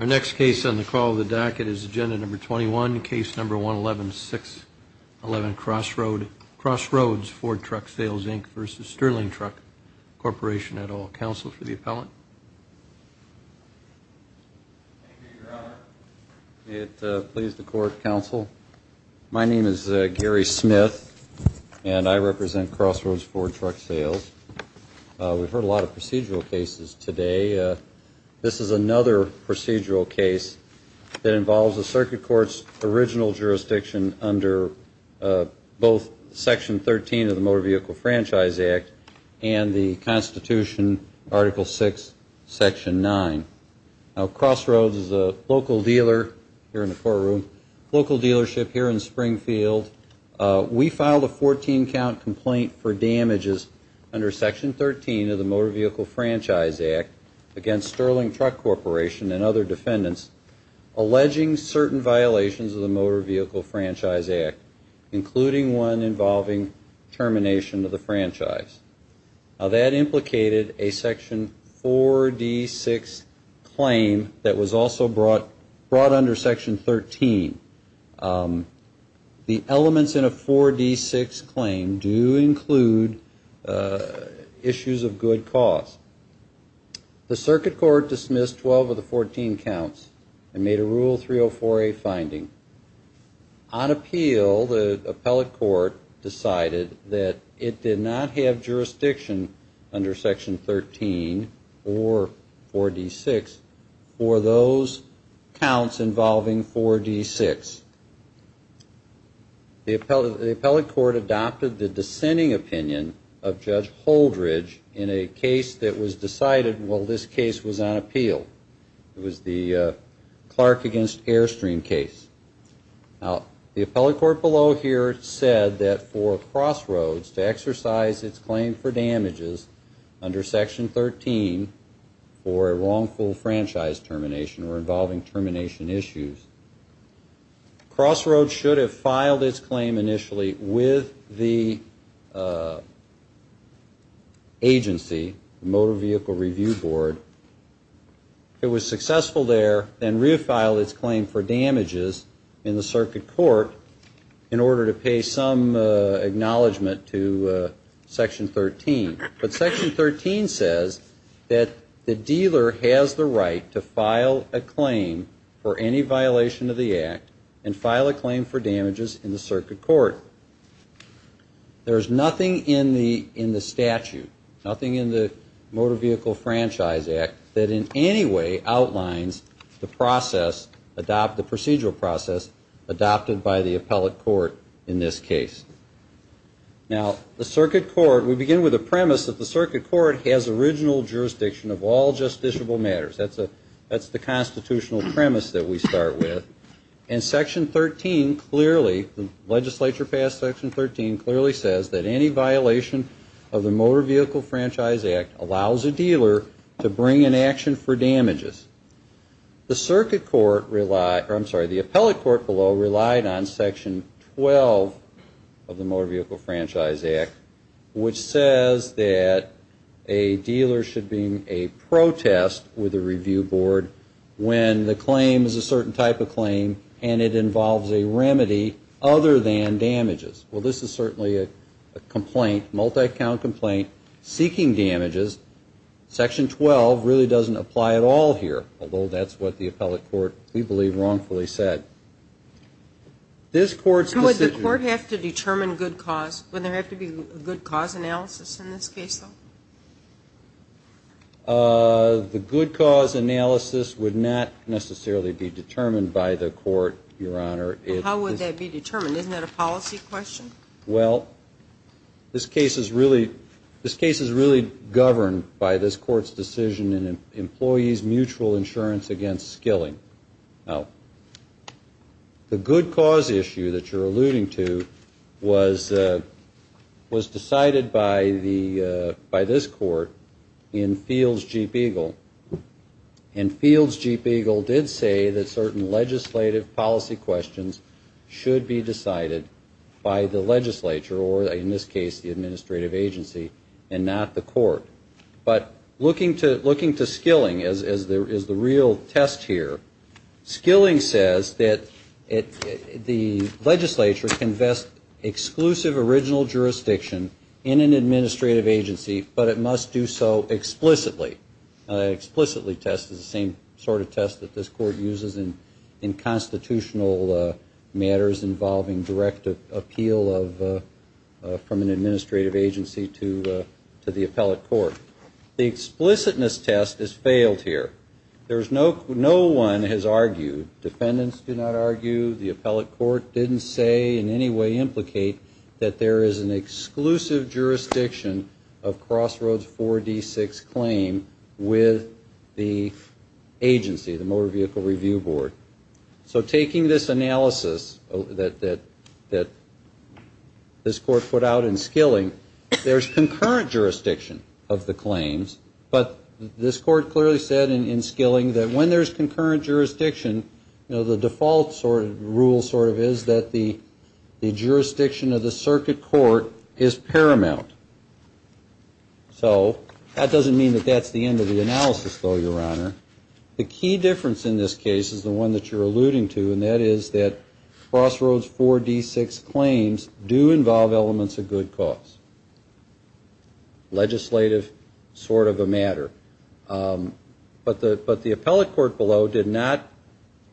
Our next case on the call of the docket is Agenda Number 21, Case Number 111611, Crossroads Ford Truck Sales, Inc. v. Sterling Truck Corporation et al. Counsel for the appellant. Thank you, Your Honor. May it please the Court, Counsel. My name is Gary Smith, and I represent Crossroads Ford Truck Sales. We've heard a lot of procedural cases today. This is another procedural case that involves the circuit court's original jurisdiction under both Section 13 of the Motor Vehicle Franchise Act and the Constitution, Article 6, Section 9. Now, Crossroads is a local dealer here in the courtroom, local dealership here in Springfield. We filed a 14-count complaint for damages under Section 13 of the Motor Vehicle Franchise Act against Sterling Truck Corporation and other defendants, alleging certain violations of the Motor Vehicle Franchise Act, including one involving termination of the franchise. Now, that implicated a Section 4D6 claim that was also brought under Section 13. The elements in a 4D6 claim do include issues of good cause. The circuit court dismissed 12 of the 14 counts and made a Rule 304A finding. On appeal, the appellate court decided that it did not have jurisdiction under Section 13 or 4D6 for those counts involving 4D6. The appellate court adopted the dissenting opinion of Judge Holdridge in a case that was decided, well, this case was on appeal. It was the Clark against Airstream case. Now, the appellate court below here said that for Crossroads to exercise its claim for damages under Section 13 for a wrongful franchise termination or involving termination issues, Crossroads should have filed its claim initially with the agency, the Motor Vehicle Review Board. It was successful there and re-filed its claim for damages in the circuit court in order to pay some acknowledgment to Section 13. But Section 13 says that the dealer has the right to file a claim for any violation of the act and file a claim for damages in the circuit court. There's nothing in the statute, nothing in the Motor Vehicle Franchise Act, that in any way outlines the procedural process adopted by the appellate court in this case. Now, the circuit court, we begin with the premise that the circuit court has original jurisdiction of all justiciable matters. That's the constitutional premise that we start with. And Section 13 clearly, the legislature passed Section 13, clearly says that any violation of the Motor Vehicle Franchise Act allows a dealer to bring an action for damages. The circuit court, I'm sorry, the appellate court below relied on Section 12 of the Motor Vehicle Franchise Act, which says that a dealer should bring a protest with a review board when the claim is a certain type of claim and it involves a remedy other than damages. Well, this is certainly a complaint, multi-count complaint, seeking damages. Section 12 really doesn't apply at all here, although that's what the appellate court, we believe, wrongfully said. This court's decision... So would the court have to determine good cause? Wouldn't there have to be a good cause analysis in this case, though? The good cause analysis would not necessarily be determined by the court, Your Honor. How would that be determined? Isn't that a policy question? Well, this case is really governed by this court's decision in employees' mutual insurance against skilling. Now, the good cause issue that you're alluding to was decided by this court in Fields-Jeep Eagle. And Fields-Jeep Eagle did say that certain legislative policy questions should be decided by the legislature or, in this case, the administrative agency and not the court. But looking to skilling as the real test here, skilling says that the legislature can vest exclusive original jurisdiction in an administrative agency, but it must do so explicitly. Explicitly test is the same sort of test that this court uses in constitutional matters involving direct appeal from an administrative agency to the appellate court. The explicitness test has failed here. No one has argued, defendants do not argue, the appellate court didn't say in any way implicate that there is an exclusive jurisdiction of Crossroads 4D6 claim with the agency, the Motor Vehicle Review Board. So taking this analysis that this court put out in skilling, there's concurrent jurisdiction of the claims, but this court clearly said in skilling that when there's concurrent jurisdiction, the default rule sort of is that the jurisdiction of the circuit court is paramount. So that doesn't mean that that's the end of the analysis, though, Your Honor. The key difference in this case is the one that you're alluding to, and that is that Crossroads 4D6 claims do involve elements of good cause. Legislative sort of a matter. But the appellate court below did not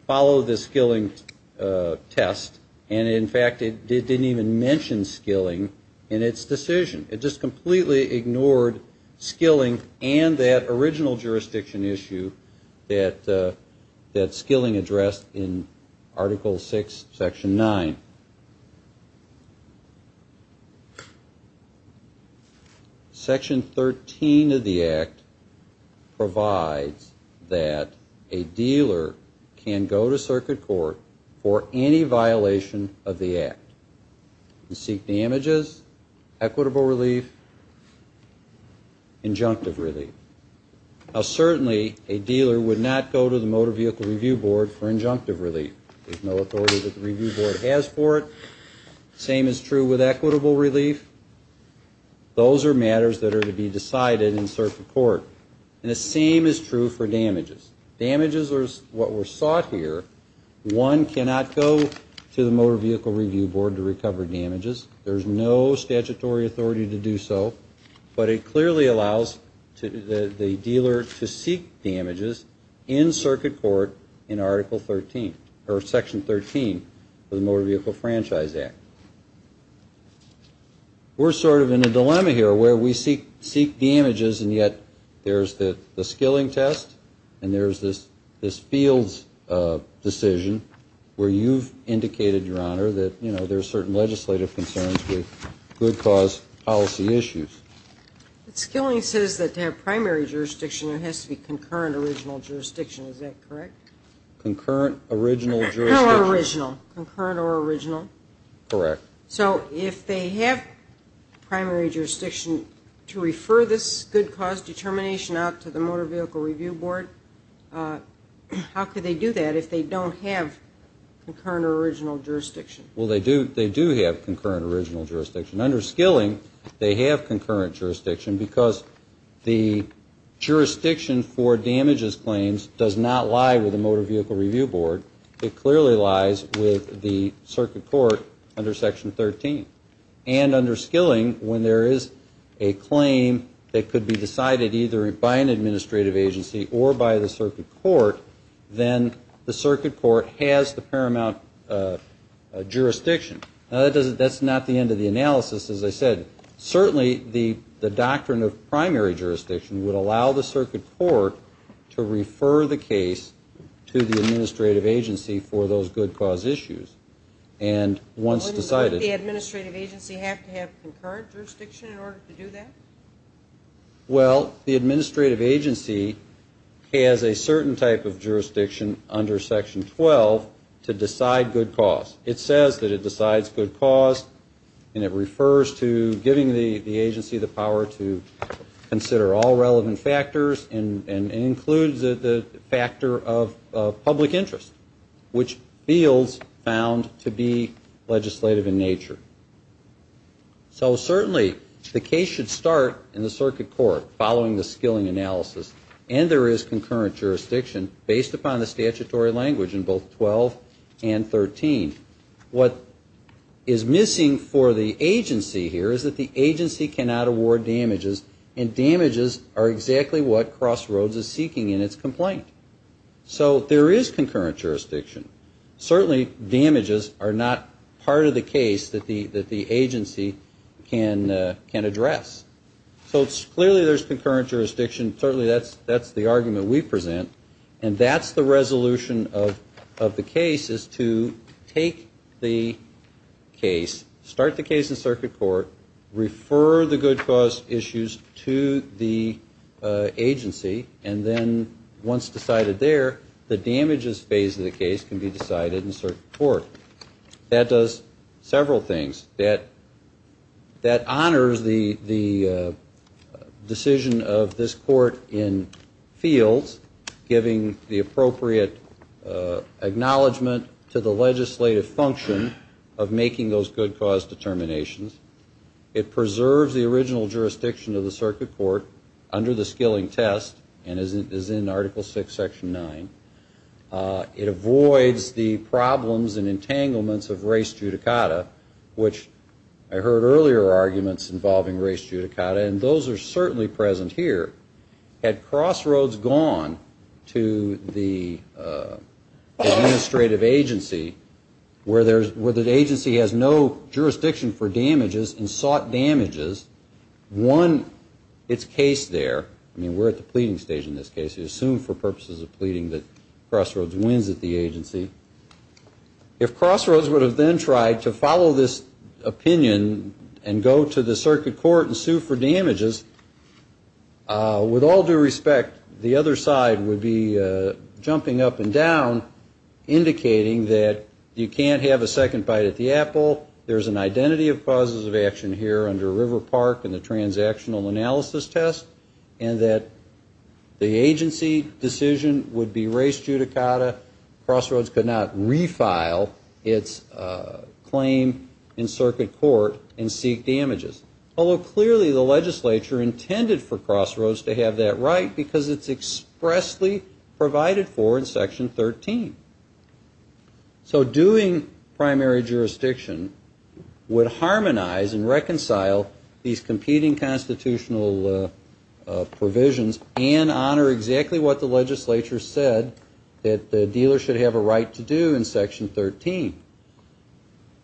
follow the skilling test, and in fact it didn't even mention skilling in its decision. It just completely ignored skilling and that original jurisdiction issue that skilling addressed in Article 6, Section 9. Section 13 of the Act provides that a dealer can go to circuit court for any violation of the Act and seek damages, equitable relief, injunctive relief. Now, certainly a dealer would not go to the Motor Vehicle Review Board for injunctive relief. There's no authority that the Review Board has for it. The same is true with equitable relief. Those are matters that are to be decided in circuit court, and the same is true for damages. Damages are what were sought here. One cannot go to the Motor Vehicle Review Board to recover damages. There's no statutory authority to do so, but it clearly allows the dealer to seek damages in circuit court in Article 13, or Section 13 of the Motor Vehicle Franchise Act. We're sort of in a dilemma here where we seek damages, and yet there's the skilling test and there's this fields decision where you've indicated, Your Honor, that, you know, there's certain legislative concerns with good cause policy issues. But skilling says that to have primary jurisdiction, it has to be concurrent original jurisdiction. Is that correct? Concurrent original jurisdiction. No, original. Concurrent or original. Correct. So if they have primary jurisdiction to refer this good cause determination out to the Motor Vehicle Review Board, how could they do that if they don't have concurrent or original jurisdiction? Well, they do have concurrent original jurisdiction. Under skilling, they have concurrent jurisdiction because the jurisdiction for damages claims does not lie with the Motor Vehicle Review Board. It clearly lies with the circuit court under Section 13. And under skilling, when there is a claim that could be decided either by an administrative agency or by the circuit court, then the circuit court has the paramount jurisdiction. Now, that's not the end of the analysis, as I said. Certainly, the doctrine of primary jurisdiction would allow the circuit court to refer the case to the administrative agency for those good cause issues. And once decided the administrative agency have to have concurrent jurisdiction in order to do that? Well, the administrative agency has a certain type of jurisdiction under Section 12 to decide good cause. It says that it decides good cause, and it refers to giving the agency the power to consider all relevant factors and includes the factor of public interest, which feels found to be legislative in nature. So certainly, the case should start in the circuit court following the skilling analysis, and there is concurrent jurisdiction based upon the statutory language in both 12 and 13. What is missing for the agency here is that the agency cannot award damages, and damages are exactly what Crossroads is seeking in its complaint. So there is concurrent jurisdiction. Certainly, damages are not part of the case that the agency can address. So clearly, there's concurrent jurisdiction. Certainly, that's the argument we present, and that's the resolution of the case is to take the case, start the case in circuit court, refer the good cause issues to the agency, and then once decided there, the damages phase of the case can be decided in circuit court. That does several things. That honors the decision of this court in fields, giving the appropriate acknowledgement to the legislative function of making those good cause determinations. It preserves the original jurisdiction of the circuit court under the skilling test and is in Article VI, Section 9. It avoids the problems and entanglements of race judicata, which I heard earlier arguments involving race judicata, and those are certainly present here. Had Crossroads gone to the administrative agency where the agency has no jurisdiction for damages and sought damages, one, it's case there. I mean, we're at the pleading stage in this case. You assume for purposes of pleading that Crossroads wins at the agency. If Crossroads would have then tried to follow this opinion and go to the circuit court and sue for damages, with all due respect, the other side would be jumping up and down, indicating that you can't have a second bite at the apple, there's an identity of causes of action here under River Park and the transactional analysis test, and that the agency decision would be race judicata. Crossroads could not refile its claim in circuit court and seek damages. Although clearly the legislature intended for Crossroads to have that right because it's expressly provided for in Section 13. So doing primary jurisdiction would harmonize and reconcile these competing constitutional provisions and honor exactly what the legislature said, that the dealer should have a right to do in Section 13.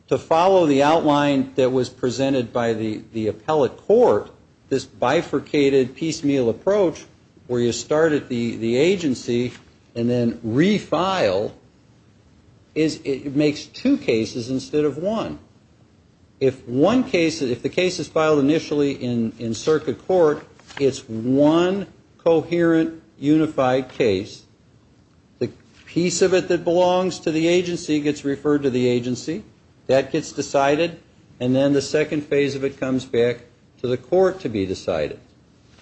To follow the outline that was presented by the appellate court, this bifurcated piecemeal approach, where you start at the agency and then refile, it makes two cases instead of one. If the case is filed initially in circuit court, it's one coherent, unified case. The piece of it that belongs to the agency gets referred to the agency, that gets decided, and then the second phase of it comes back to the court to be decided.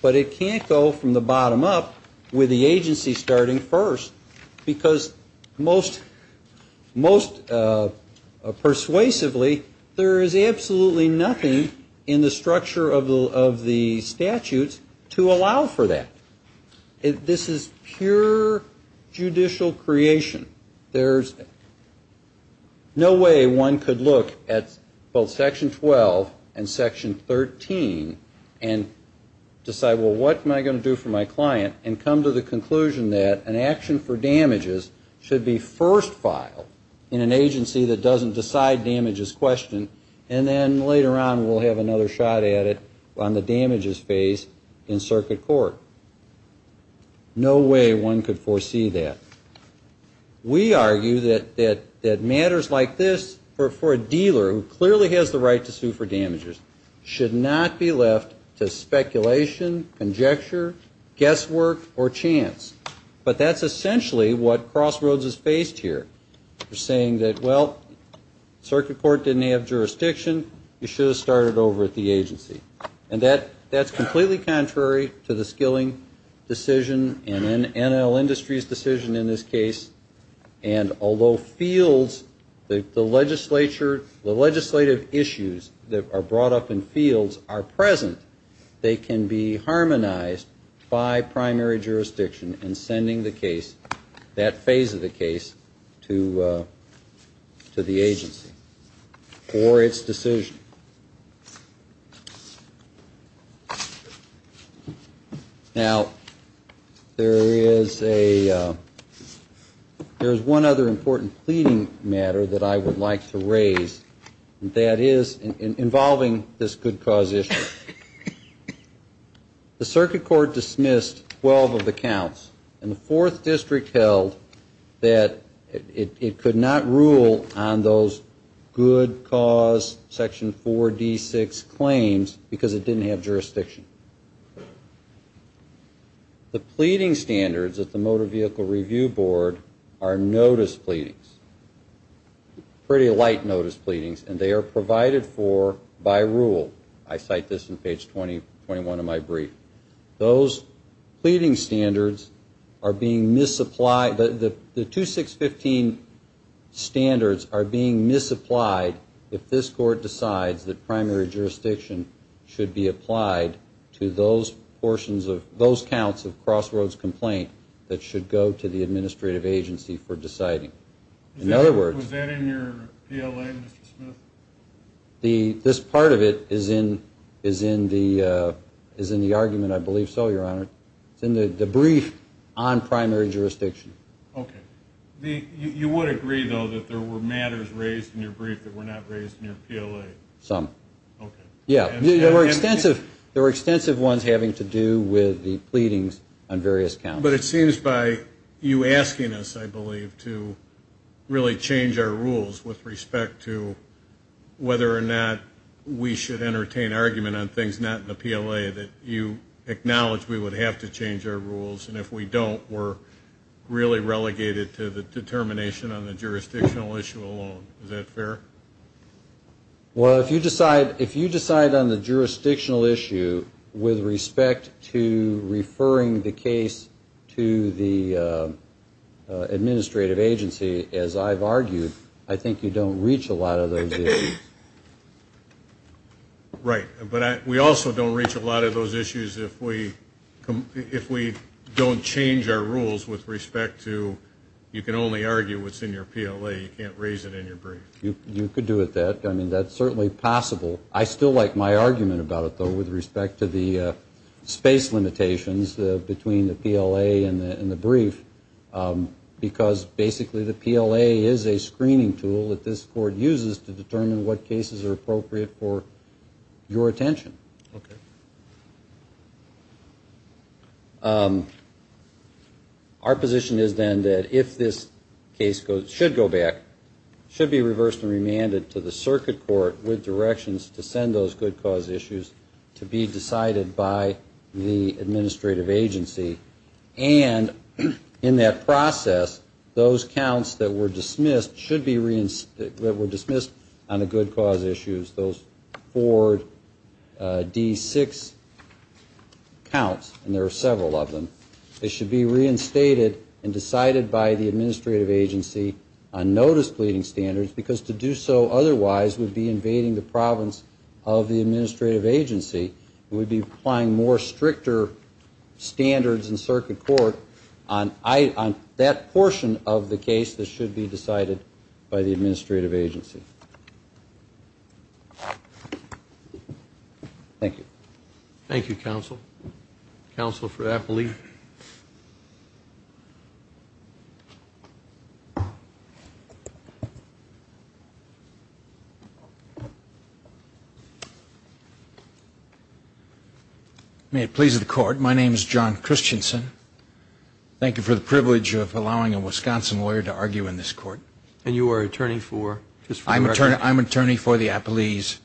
But it can't go from the bottom up with the agency starting first, because most persuasively there is absolutely nothing in the structure of the statutes to allow for that. This is pure judicial creation. There's no way one could look at both Section 12 and Section 13 and decide, well, what am I going to do for my client, and come to the conclusion that an action for damages should be first filed in an agency that doesn't decide damages question, and then later on we'll have another shot at it on the damages phase in circuit court. No way one could foresee that. We argue that matters like this, for a dealer who clearly has the right to sue for damages, should not be left to speculation, conjecture, guesswork, or chance. But that's essentially what Crossroads is faced here. They're saying that, well, circuit court didn't have jurisdiction. You should have started over at the agency. And that's completely contrary to the Skilling decision and NL Industries' decision in this case. And although fields, the legislative issues that are brought up in fields are present, they can be harmonized by primary jurisdiction in sending the case, that phase of the case, to the agency for its decision. Now, there is one other important pleading matter that I would like to raise, and that is involving this good cause issue. The circuit court dismissed 12 of the counts, and the fourth district held that it could not rule on those good cause section 4D6 claims because it didn't have jurisdiction. The pleading standards at the Motor Vehicle Review Board are notice pleadings, pretty light notice pleadings, and they are provided for by rule. I cite this in page 21 of my brief. Those pleading standards are being misapplied. The 2615 standards are being misapplied if this court decides that primary jurisdiction should be applied to those portions of those counts of Crossroads complaint that should go to the administrative agency for deciding. In other words... Was that in your PLA, Mr. Smith? This part of it is in the argument, I believe so, Your Honor. It's in the brief on primary jurisdiction. Okay. You would agree, though, that there were matters raised in your brief that were not raised in your PLA? Some. Okay. Yeah. There were extensive ones having to do with the pleadings on various counts. Well, but it seems by you asking us, I believe, to really change our rules with respect to whether or not we should entertain argument on things not in the PLA that you acknowledge we would have to change our rules. And if we don't, we're really relegated to the determination on the jurisdictional issue alone. Is that fair? Well, if you decide on the jurisdictional issue with respect to referring the case to the administrative agency, as I've argued, I think you don't reach a lot of those issues. Right. But we also don't reach a lot of those issues if we don't change our rules with respect to you can only argue what's in your PLA. You can't raise it in your brief. You could do with that. I mean, that's certainly possible. I still like my argument about it, though, with respect to the space limitations between the PLA and the brief, because basically the PLA is a screening tool that this court uses to determine what cases are appropriate for your attention. Okay. All right. Our position is then that if this case should go back, it should be reversed and remanded to the circuit court with directions to send those good cause issues to be decided by the administrative agency. And in that process, those counts that were dismissed on the good cause issues, those four D6 counts, and there are several of them, they should be reinstated and decided by the administrative agency on notice pleading standards, because to do so otherwise would be invading the province of the administrative agency. It would be applying more stricter standards in circuit court on that portion of the case that should be decided by the administrative agency. Thank you. Thank you, counsel. Counsel for Appleby. May it please the court, my name is John Christensen. Thank you for the privilege of allowing a Wisconsin lawyer to argue in this court. And you are attorney for? I'm attorney for the Appleby's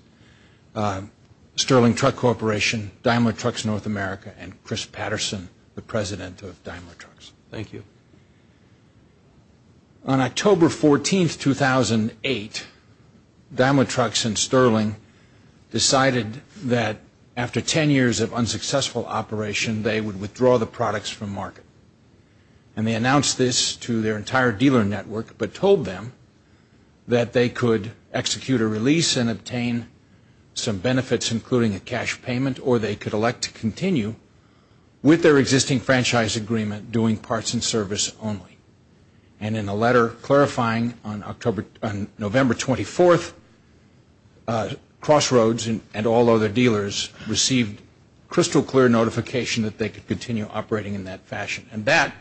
Sterling Truck Corporation, Daimler Trucks North America, and Chris Patterson, the president of Daimler Trucks. Thank you. On October 14, 2008, Daimler Trucks and Sterling decided that after 10 years of unsuccessful operation, they would withdraw the products from market. And they announced this to their entire dealer network, but told them that they could execute a release and obtain some benefits, including a cash payment, or they could elect to continue with their existing franchise agreement doing parts and service only. And in a letter clarifying on November 24, Crossroads and all other dealers received crystal clear notification that they could continue operating in that fashion. And that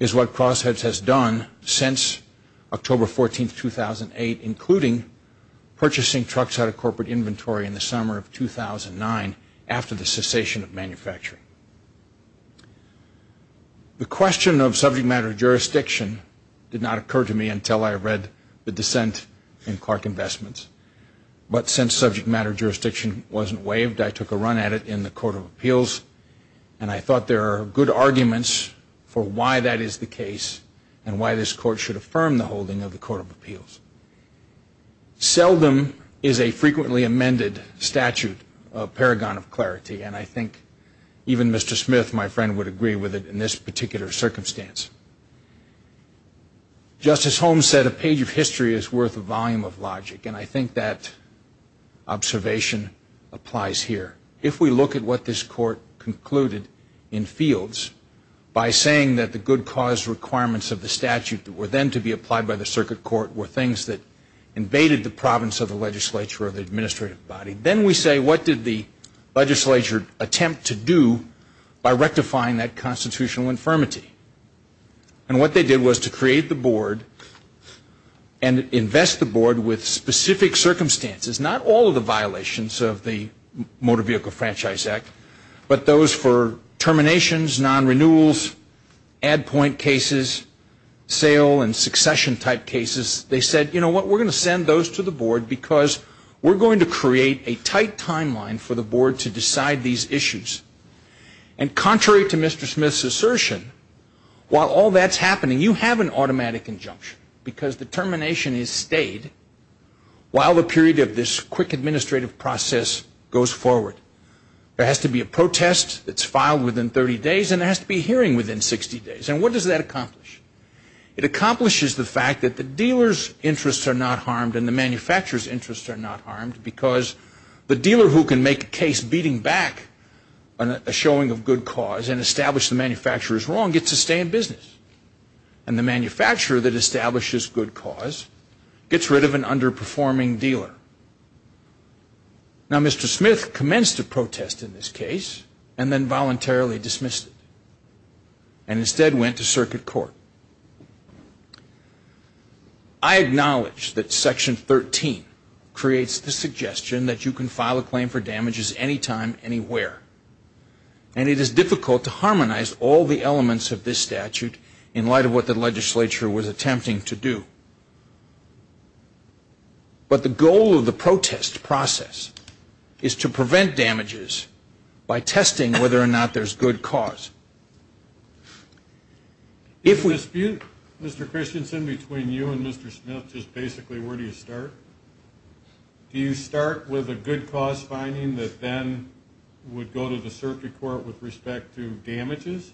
is what Crossroads has done since October 14, 2008, including purchasing trucks out of corporate inventory in the summer of 2009, after the cessation of manufacturing. The question of subject matter jurisdiction did not occur to me until I read the dissent in Clark Investments. But since subject matter jurisdiction wasn't waived, I took a run at it in the Court of Appeals, and I thought there are good arguments for why that is the case and why this court should affirm the holding of the Court of Appeals. Seldom is a frequently amended statute a paragon of clarity, and I think even Mr. Smith, my friend, would agree with it in this particular circumstance. Justice Holmes said a page of history is worth a volume of logic, and I think that observation applies here. If we look at what this court concluded in fields by saying that the good cause requirements of the statute were then to be applied by the circuit court were things that invaded the province of the legislature or the administrative body, then we say what did the legislature attempt to do by rectifying that constitutional infirmity? And what they did was to create the board and invest the board with specific circumstances, not all of the violations of the Motor Vehicle Franchise Act, but those for terminations, non-renewals, add point cases, sale and succession type cases. They said, you know what, we're going to send those to the board because we're going to create a tight timeline for the board to decide these issues. And contrary to Mr. Smith's assertion, while all that's happening, you have an automatic injunction because the termination is stayed while the period of this quick administrative process goes forward. There has to be a protest that's filed within 30 days, and there has to be a hearing within 60 days. And what does that accomplish? It accomplishes the fact that the dealer's interests are not harmed and the manufacturer's interests are not harmed because the dealer who can make a case beating back a showing of good cause and establish the manufacturer's wrong gets to stay in business. And the manufacturer that establishes good cause gets rid of an underperforming dealer. Now, Mr. Smith commenced a protest in this case and then voluntarily dismissed it and instead went to circuit court. I acknowledge that Section 13 creates the suggestion that you can file a claim for damages anytime, anywhere. And it is difficult to harmonize all the elements of this statute in light of what the legislature was attempting to do. But the goal of the protest process is to prevent damages by testing whether or not there's good cause. If we dispute, Mr. Christensen, between you and Mr. Smith, just basically where do you start? Do you start with a good cause finding that then would go to the circuit court with respect to damages?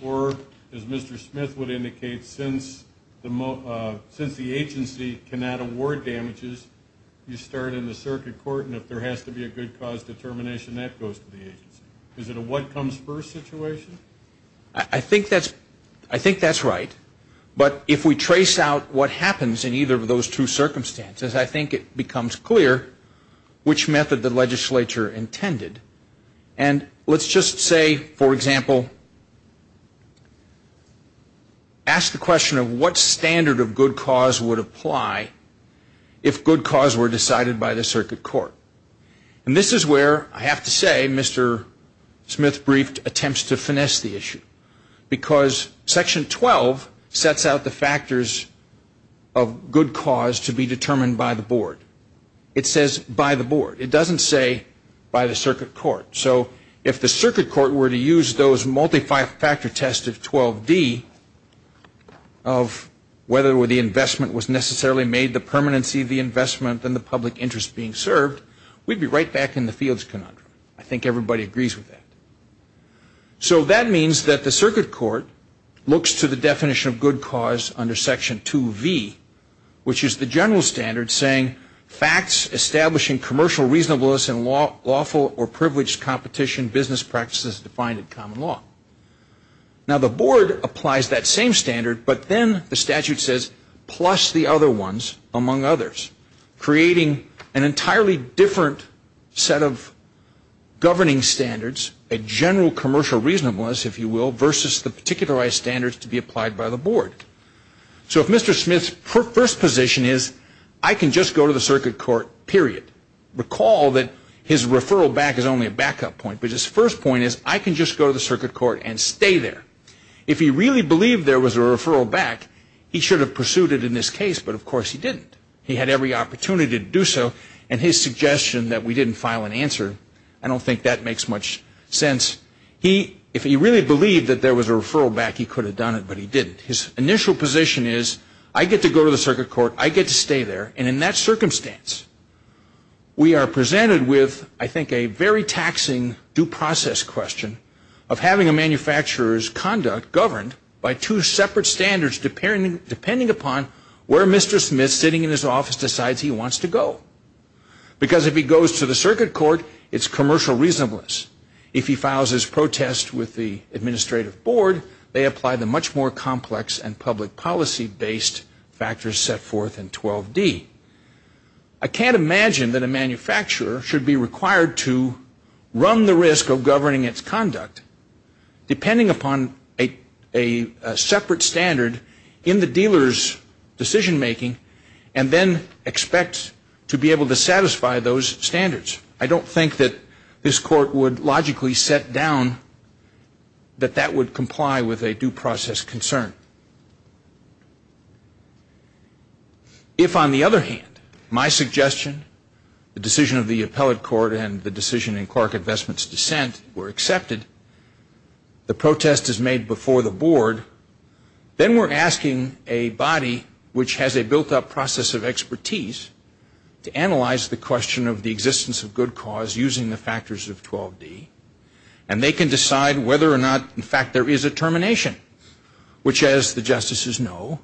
Or, as Mr. Smith would indicate, since the agency cannot award damages, you start in the circuit court and if there has to be a good cause determination, that goes to the agency. Is it a what comes first situation? I think that's right. But if we trace out what happens in either of those two circumstances, I think it becomes clear which method the legislature intended. And let's just say, for example, ask the question of what standard of good cause would apply if good cause were decided by the circuit court. And this is where, I have to say, Mr. Smith briefed attempts to finesse the issue. Because Section 12 sets out the factors of good cause to be determined by the board. It says by the board. It doesn't say by the circuit court. So if the circuit court were to use those multi-factor tests of 12D, of whether the investment was necessarily made the permanency of the investment than the public interest being served, we'd be right back in the fields conundrum. I think everybody agrees with that. So that means that the circuit court looks to the definition of good cause under Section 2V, which is the general standard saying, facts establishing commercial reasonableness in lawful or privileged competition business practices defined in common law. Now the board applies that same standard, but then the statute says, plus the other ones among others, creating an entirely different set of governing standards, a general commercial reasonableness, if you will, versus the particularized standards to be applied by the board. So if Mr. Smith's first position is, I can just go to the circuit court, period. Recall that his referral back is only a backup point. But his first point is, I can just go to the circuit court and stay there. If he really believed there was a referral back, he should have pursued it in this case, but of course he didn't. He had every opportunity to do so, and his suggestion that we didn't file an answer, I don't think that makes much sense. If he really believed that there was a referral back, he could have done it, but he didn't. His initial position is, I get to go to the circuit court, I get to stay there, and in that circumstance we are presented with, I think, a very taxing due process question of having a manufacturer's conduct governed by two separate standards depending upon where Mr. Smith, sitting in his office, decides he wants to go. Because if he goes to the circuit court, it's commercial reasonableness. If he files his protest with the administrative board, they apply the much more complex and public policy based factors set forth in 12D. I can't imagine that a manufacturer should be required to run the risk of governing its conduct, depending upon a separate standard in the dealer's decision making, and then expect to be able to satisfy those standards. I don't think that this court would logically set down that that would comply with a due process concern. If, on the other hand, my suggestion, the decision of the appellate court and the decision in Clark Investments' dissent were accepted, the protest is made before the board, then we're asking a body which has a built-up process of expertise to analyze the question of the existence of good cause using the factors of 12D. And they can decide whether or not, in fact, there is a termination. Which, as the justices know,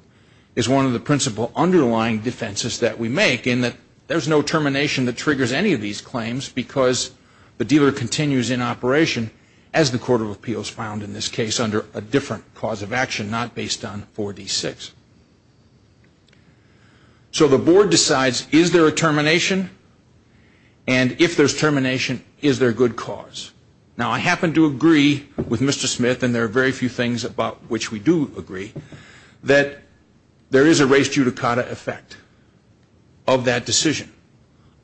is one of the principle underlying defenses that we make in that there's no termination that triggers any of these claims because the dealer continues in operation, as the Court of Appeals found in this case, under a different cause of action not based on 4D6. So the board decides, is there a termination? And if there's termination, is there good cause? Now, I happen to agree with Mr. Smith, and there are very few things about which we do agree, that there is a res judicata effect of that decision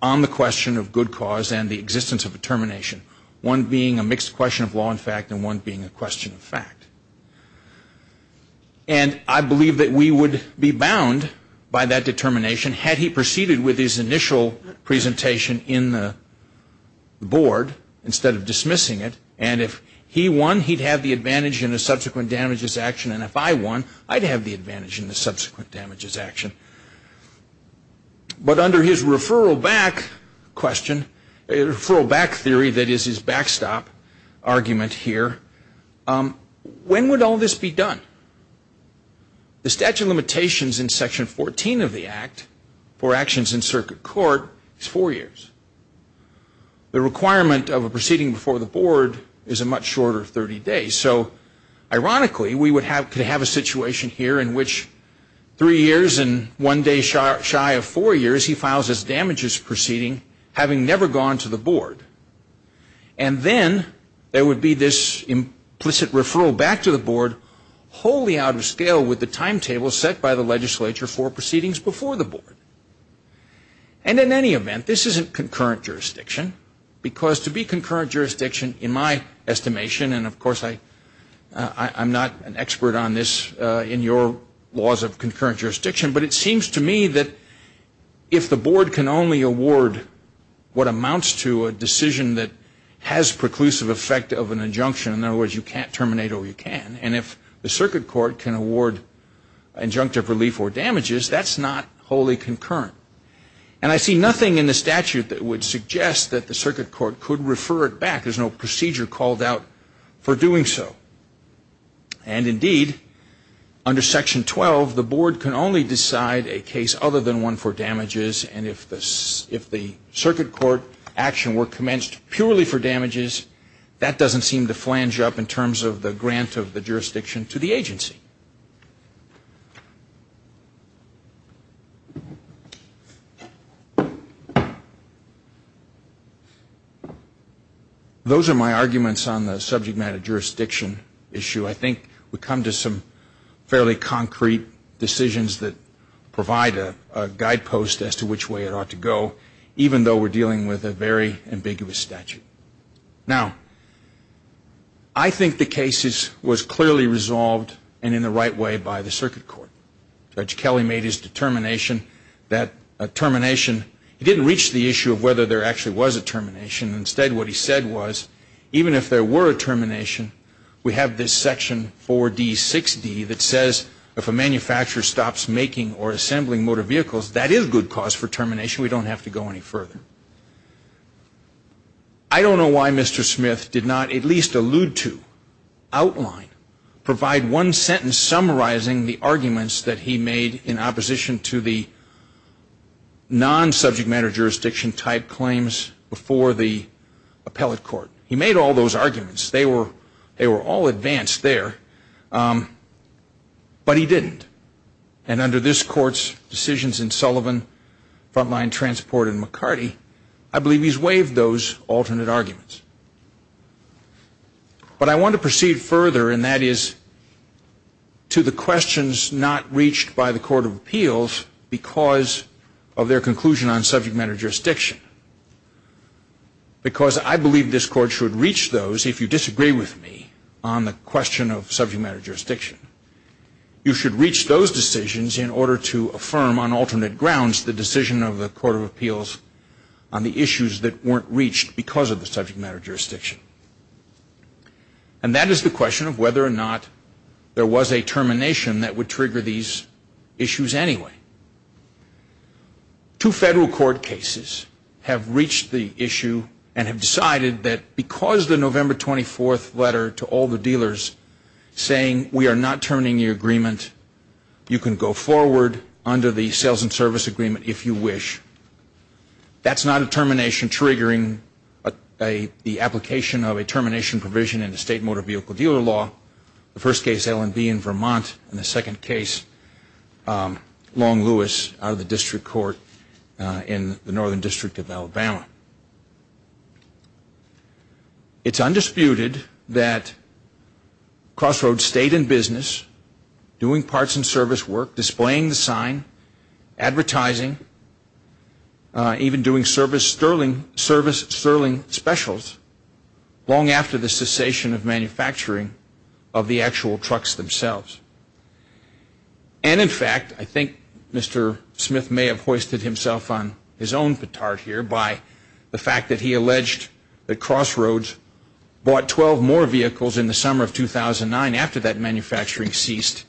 on the question of good cause and the existence of a termination, one being a mixed question of law and fact and one being a question of fact. And I believe that we would be bound by that determination, had he proceeded with his initial presentation in the board instead of dismissing it. And if he won, he'd have the advantage in a subsequent damages action. And if I won, I'd have the advantage in the subsequent damages action. But under his referral back question, referral back theory, that is his backstop argument here, when would all this be done? The statute of limitations in Section 14 of the Act for actions in circuit court is four years. The requirement of a proceeding before the board is a much shorter 30 days. So, ironically, we could have a situation here in which three years and one day shy of four years, he files his damages proceeding, having never gone to the board. And then there would be this implicit referral back to the board, wholly out of scale with the timetable set by the legislature for proceedings before the board. And in any event, this isn't concurrent jurisdiction, because to be concurrent jurisdiction, in my estimation, and of course I'm not an expert on this in your laws of concurrent jurisdiction, but it seems to me that if the board can only award what amounts to a decision that has preclusive effect of an injunction, in other words, you can't terminate or you can. And if the circuit court can award injunctive relief or damages, that's not wholly concurrent. And I see nothing in the statute that would suggest that the circuit court could refer it back. There's no procedure called out for doing so. And indeed, under Section 12, the board can only decide a case other than one for damages, and if the circuit court action were commenced purely for damages, that doesn't seem to flange up in terms of the grant of the jurisdiction to the agency. Those are my arguments on the subject matter jurisdiction issue. I think we come to some fairly concrete decisions that provide a guidepost as to which way it ought to go, even though we're dealing with a very ambiguous statute. Now, I think the case was clearly resolved and in the right way by the circuit court. Judge Kelly made his determination that a termination, he didn't reach the issue of whether there actually was a termination. Instead, what he said was, even if there were a termination, we have this Section 4D-6D that says if a manufacturer stops making or assembling motor vehicles, that is good cause for termination. We don't have to go any further. I don't know why Mr. Smith did not at least allude to, outline, provide one sentence summarizing the arguments that he made in opposition to the non-subject matter jurisdiction type claims before the appellate court. He made all those arguments. They were all advanced there, but he didn't. And under this Court's decisions in Sullivan, Frontline, Transport, and McCarty, I believe he's waived those alternate arguments. But I want to proceed further, and that is to the questions not reached by the Court of Appeals because of their conclusion on subject matter jurisdiction. Because I believe this Court should reach those, if you disagree with me, on the question of subject matter jurisdiction. You should reach those decisions in order to affirm on alternate grounds the decision of the Court of Appeals on the issues that weren't reached because of the subject matter jurisdiction. And that is the question of whether or not there was a termination that would trigger these issues anyway. Two federal court cases have reached the issue and have decided that because the November 24th letter to all the dealers saying we are not terminating the agreement, you can go forward under the sales and service agreement if you wish. That's not a termination triggering the application of a termination provision in the state motor vehicle dealer law. The first case, L&B in Vermont, and the second case, Long Lewis, It's undisputed that Crossroads stayed in business, doing parts and service work, displaying the sign, advertising, even doing service sterling specials long after the cessation of manufacturing of the actual trucks themselves. And in fact, I think Mr. Smith may have hoisted himself on his own petard here by the fact that he alleged that Crossroads bought 12 more vehicles in the summer of 2009 after that manufacturing ceased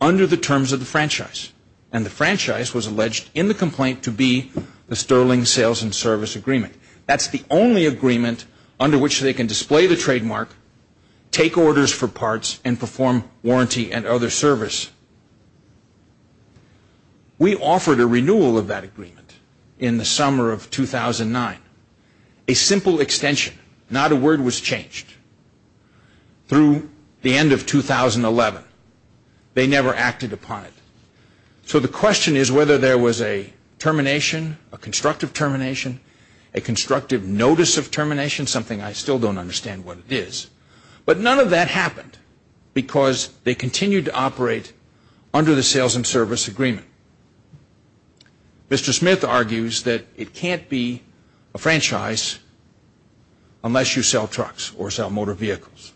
under the terms of the franchise. And the franchise was alleged in the complaint to be the sterling sales and service agreement. That's the only agreement under which they can display the trademark, take orders for parts, and perform warranty and other service. We offered a renewal of that agreement in the summer of 2009. A simple extension, not a word was changed through the end of 2011. They never acted upon it. So the question is whether there was a termination, a constructive termination, a constructive notice of termination, something I still don't understand what it is. But none of that happened because they continued to operate under the sales and service agreement. Mr. Smith argues that it can't be a franchise unless you sell trucks or sell motor vehicles.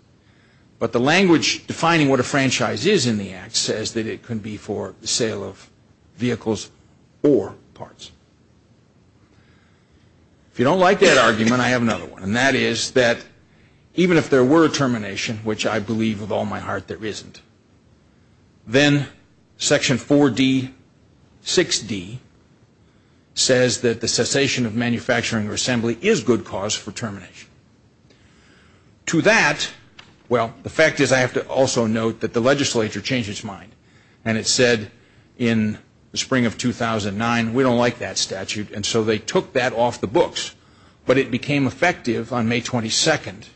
But the language defining what a franchise is in the act says that it can be for the sale of vehicles or parts. If you don't like that argument, I have another one. And that is that even if there were a termination, which I believe with all my heart there isn't, then Section 4D, 6D says that the cessation of manufacturing or assembly is good cause for termination. To that, well, the fact is I have to also note that the legislature changed its mind. And it said in the spring of 2009, we don't like that statute. And so they took that off the books. But it became effective on May 22nd.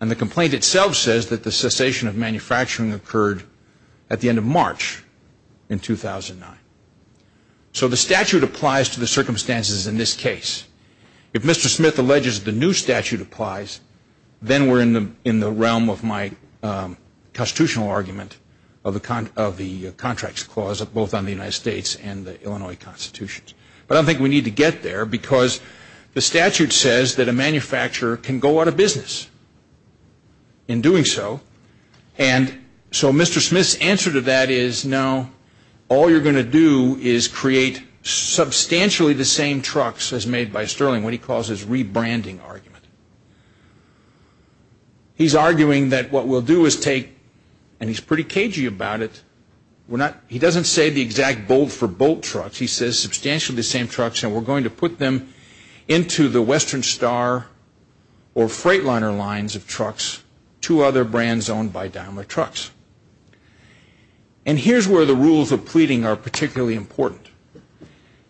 And the complaint itself says that the cessation of manufacturing occurred at the end of March in 2009. So the statute applies to the circumstances in this case. If Mr. Smith alleges the new statute applies, then we're in the realm of my constitutional argument of the Contracts Clause, both on the United States and the Illinois Constitution. But I don't think we need to get there because the statute says that a manufacturer can go out of business in doing so. And so Mr. Smith's answer to that is, no, all you're going to do is create substantially the same trucks as made by Sterling, what he calls his rebranding argument. He's arguing that what we'll do is take, and he's pretty cagey about it, he doesn't say the exact bolt for bolt trucks. He says substantially the same trucks, and we're going to put them into the Western Star or Freightliner lines of trucks, two other brands owned by Daimler Trucks. And here's where the rules of pleading are particularly important.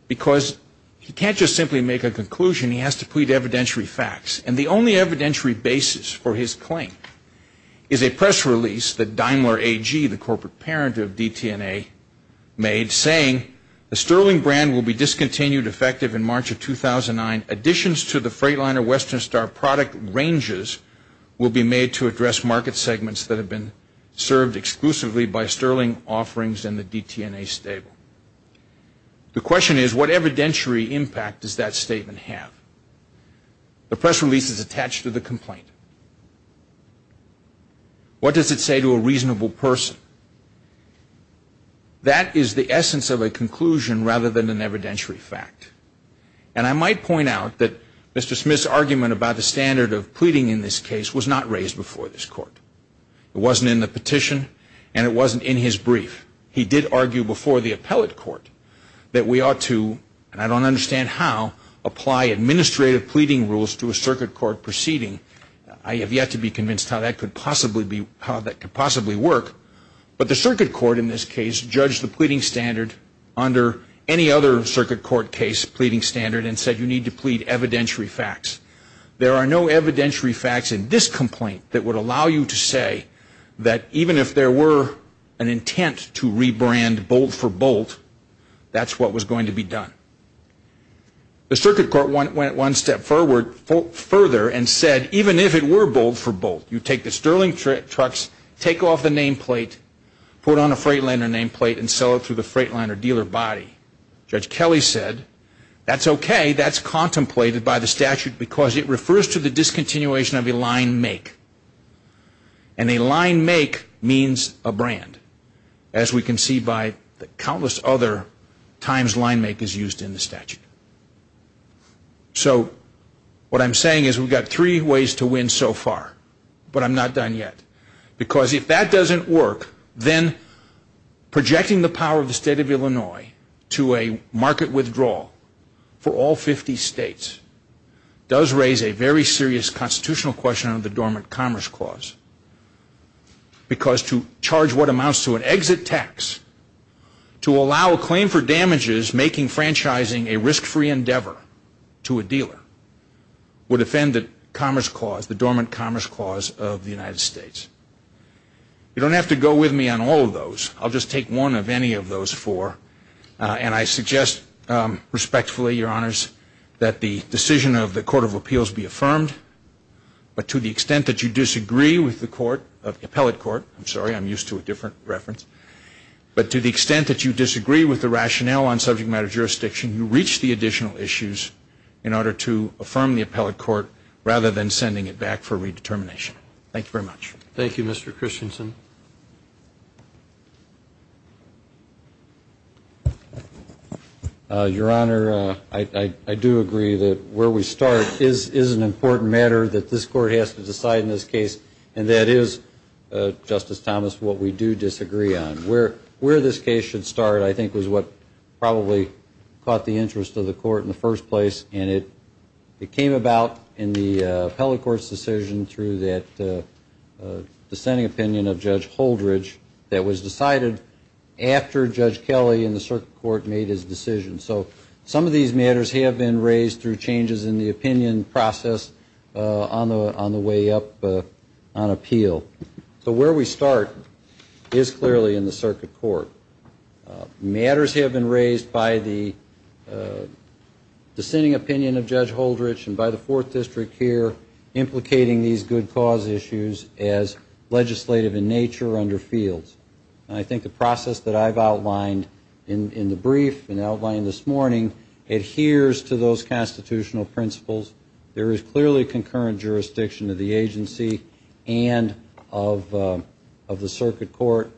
Because he can't just simply make a conclusion, he has to plead evidentiary facts. And the only evidentiary basis for his claim is a press release that Daimler AG, the corporate parent of DTNA, made, saying the Sterling brand will be discontinued effective in March of 2009. And additions to the Freightliner Western Star product ranges will be made to address market segments that have been served exclusively by Sterling offerings and the DTNA stable. The question is, what evidentiary impact does that statement have? The press release is attached to the complaint. What does it say to a reasonable person? That is the essence of a conclusion rather than an evidentiary fact. And I might point out that Mr. Smith's argument about the standard of pleading in this case was not raised before this court. It wasn't in the petition, and it wasn't in his brief. He did argue before the appellate court that we ought to, and I don't understand how, apply administrative pleading rules to a circuit court proceeding. I have yet to be convinced how that could possibly work. But the circuit court in this case judged the pleading standard under any other circuit court case pleading standard and said you need to plead evidentiary facts. There are no evidentiary facts in this complaint that would allow you to say that even if there were an intent to rebrand Bolt for Bolt, that's what was going to be done. The circuit court went one step further and said even if it were Bolt for Bolt, you take the sterling trucks, take off the nameplate, put on a Freightliner nameplate, and sell it through the Freightliner dealer body. Judge Kelly said that's okay. That's contemplated by the statute because it refers to the discontinuation of a line make. And a line make means a brand, as we can see by the countless other times line make is used in the statute. So what I'm saying is we've got three ways to win so far, but I'm not done yet. Because if that doesn't work, then projecting the power of the state of Illinois to a market withdrawal for all 50 states does raise a very serious constitutional question under the Dormant Commerce Clause. Because to charge what amounts to an exit tax, to allow a claim for damages making franchising a risk-free endeavor to a dealer, would offend the Commerce Clause, the Dormant Commerce Clause of the United States. You don't have to go with me on all of those. I'll just take one of any of those four. And I suggest respectfully, Your Honors, that the decision of the Court of Appeals be affirmed. But to the extent that you disagree with the court, the appellate court, I'm sorry, I'm used to a different reference. But to the extent that you disagree with the rationale on subject matter jurisdiction, you reach the additional issues in order to affirm the appellate court rather than sending it back for redetermination. Thank you very much. Thank you, Mr. Christensen. Your Honor, I do agree that where we start is an important matter that this court has to decide in this case. And that is, Justice Thomas, what we do disagree on. Where this case should start, I think, was what probably caught the interest of the court in the first place. And it came about in the appellate court's decision through that dissenting opinion of Judge Holdridge that was decided after Judge Kelly and the circuit court made his decision. So some of these matters have been raised through changes in the opinion process on the way up on appeal. So where we start is clearly in the circuit court. Matters have been raised by the dissenting opinion of Judge Holdridge and by the Fourth District here, implicating these good cause issues as legislative in nature or under fields. And I think the process that I've outlined in the brief and outlined this morning adheres to those constitutional principles. There is clearly concurrent jurisdiction of the agency and of the circuit court.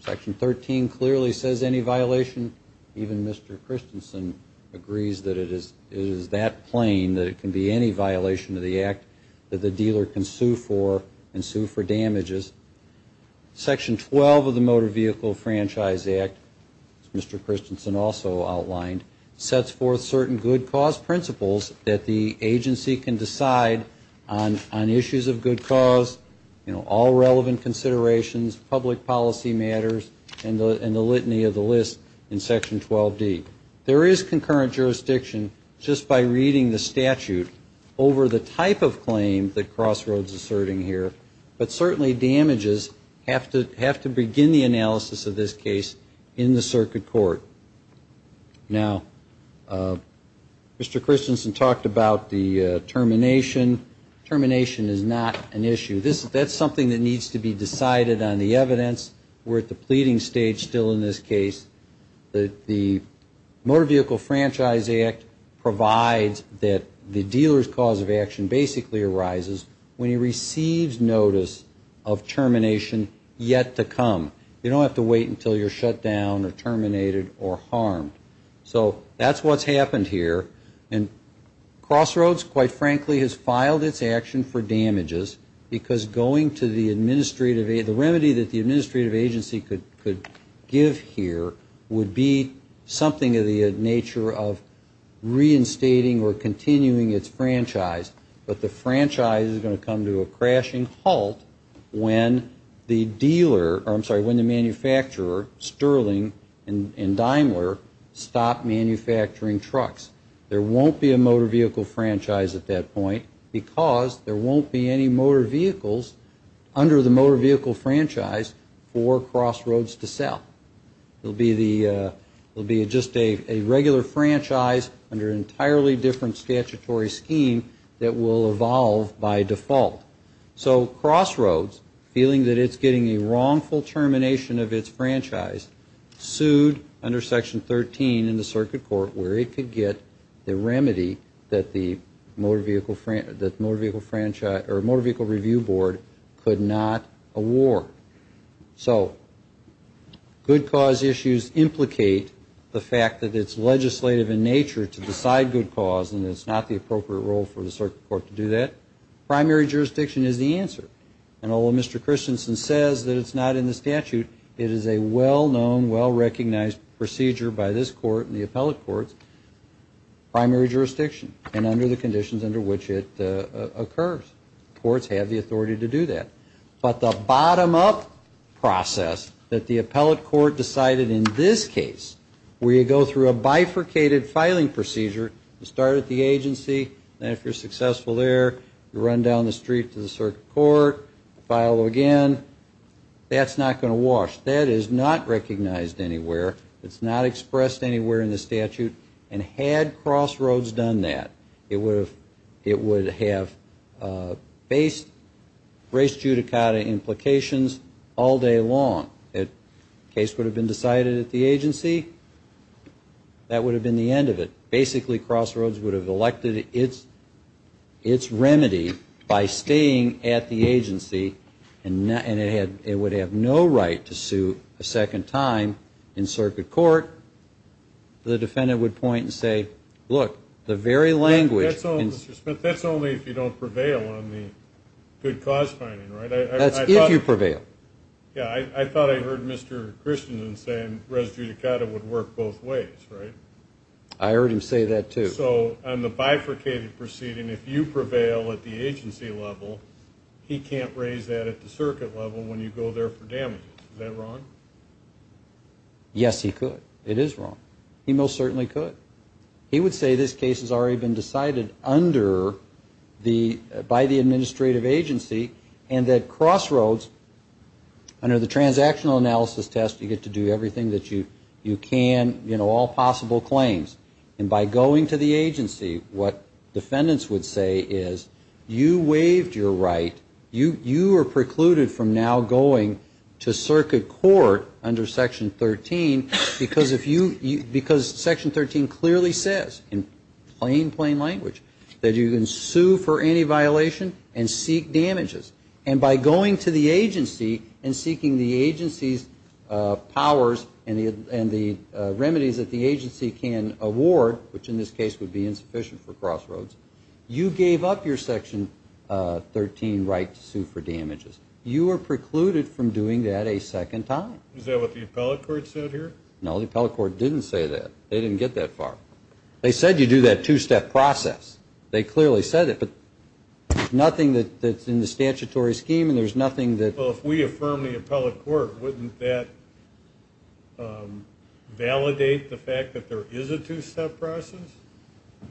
Section 13 clearly says any violation. Even Mr. Christensen agrees that it is that plain that it can be any violation of the act that the dealer can sue for and sue for damages. Section 12 of the Motor Vehicle Franchise Act, as Mr. Christensen also outlined, sets forth certain good cause principles that the agency can decide on issues of good cause, all relevant considerations, public policy matters, and the litany of the list in Section 12D. There is concurrent jurisdiction just by reading the statute over the type of claim that Crossroads is asserting here, but certainly damages have to begin the analysis of this case in the circuit court. Now, Mr. Christensen talked about the termination. Termination is not an issue. That's something that needs to be decided on the evidence. We're at the pleading stage still in this case. The Motor Vehicle Franchise Act provides that the dealer's cause of action basically arises when he receives notice of termination yet to come. You don't have to wait until you're shut down or terminated or harmed. So that's what's happened here, and Crossroads, quite frankly, has filed its action for damages, because going to the administrative, the remedy that the administrative agency could give here would be something of the nature of reinstating or continuing its franchise, but the franchise is going to come to a crashing halt when the dealer, I'm sorry, when the manufacturer, Sterling and Daimler, stop manufacturing trucks. There won't be a motor vehicle franchise at that point because there won't be any motor vehicles under the motor vehicle franchise for Crossroads to sell. It will be just a regular franchise under an entirely different statutory scheme that will evolve by default. So Crossroads, feeling that it's getting a wrongful termination of its franchise, sued under Section 13 in the Circuit Court, where it could get the remedy that the Motor Vehicle Review Board could not award. So good cause issues implicate the fact that it's legislative in nature to decide good cause, and it's not the appropriate role for the Circuit Court to do that. Primary jurisdiction is the answer, and although Mr. Christensen says that it's not in the statute, it is a well-known, well-recognized procedure by this Court and the appellate courts, primary jurisdiction and under the conditions under which it occurs. Courts have the authority to do that, but the bottom-up process that the appellate court decided in this case, where you go through a bifurcated filing procedure, you start at the agency, and if you're successful there, you run down the street to the Circuit Court, file again, that's not going to wash. That is not recognized anywhere. It's not expressed anywhere in the statute. And had Crossroads done that, it would have faced race judicata implications all day long. The case would have been decided at the agency. That would have been the end of it. Basically, Crossroads would have elected its remedy by staying at the agency, and it would have no right to sue a second time in Circuit Court. The defendant would point and say, look, the very language in the statute. That's if you prevail. I heard him say that, too. Yes, he could. It is wrong. He most certainly could. And that Crossroads, under the transactional analysis test, you get to do everything that you can, all possible claims. And by going to the agency, what defendants would say is, you waived your right. You are precluded from now going to Circuit Court under Section 13, because Section 13 clearly says, in plain, plain language, that you can sue for any violation and seek damages. And by going to the agency and seeking the agency's powers and the remedies that the agency can award, which in this case would be insufficient for Crossroads, you gave up your Section 13 right to sue for damages. You are precluded from doing that a second time. Is that what the appellate court said here? No, the appellate court didn't say that. They didn't get that far. They said you do that two-step process.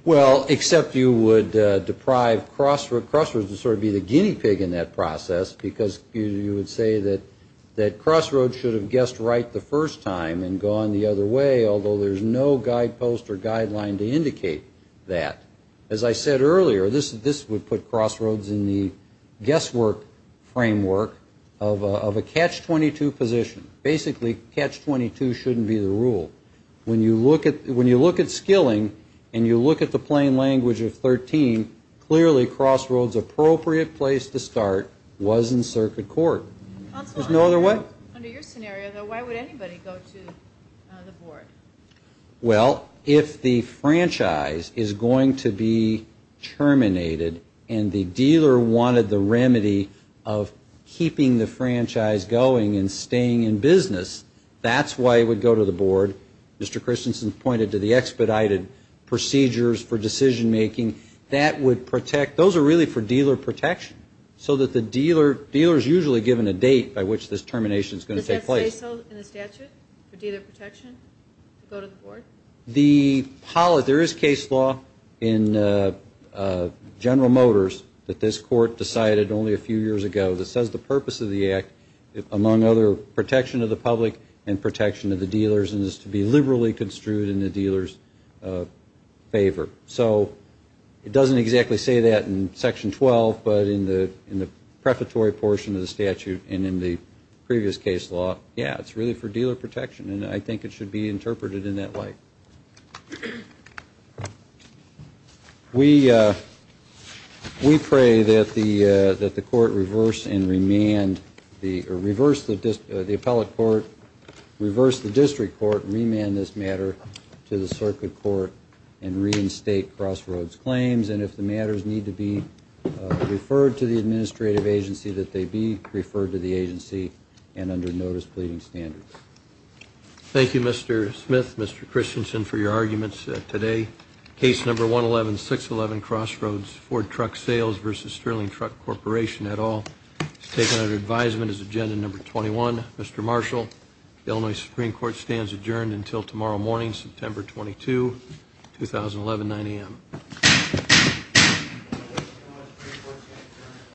Well, except you would deprive Crossroads to sort of be the guinea pig in that process, because you would say that Crossroads should have guessed right the first time and gone the other way, although there's no guidepost or guideline to indicate that. As I said earlier, this would put Crossroads in the guesswork framework of a catch-22 position. Basically, catch-22 shouldn't be the rule. When you look at skilling and you look at the plain language of 13, clearly Crossroads' appropriate place to start was in circuit court. Under your scenario, though, why would anybody go to the board? Well, if the franchise is going to be terminated and the dealer wanted the remedy of keeping the franchise going and staying in business, that's why it would go to the board. Mr. Christensen pointed to the expedited procedures for decision-making. Those are really for dealer protection, so the dealer is usually given a date by which this termination is going to take place. Does that say so in the statute, for dealer protection, to go to the board? There is case law in General Motors that this court decided only a few years ago that says the purpose of the act, among other, protection of the public and protection of the dealers, is to be liberally construed in the dealer's favor. It doesn't exactly say that in Section 12, but in the prefatory portion of the statute and in the previous case law, yeah, it's really for dealer protection, and I think it should be interpreted in that light. We pray that the court reverse and remand the appellate court, reverse the district court, remand this matter to the circuit court and reinstate Crossroads' claims, and if the matters need to be referred to the administrative agency, that they be referred to the agency and under notice pleading standards.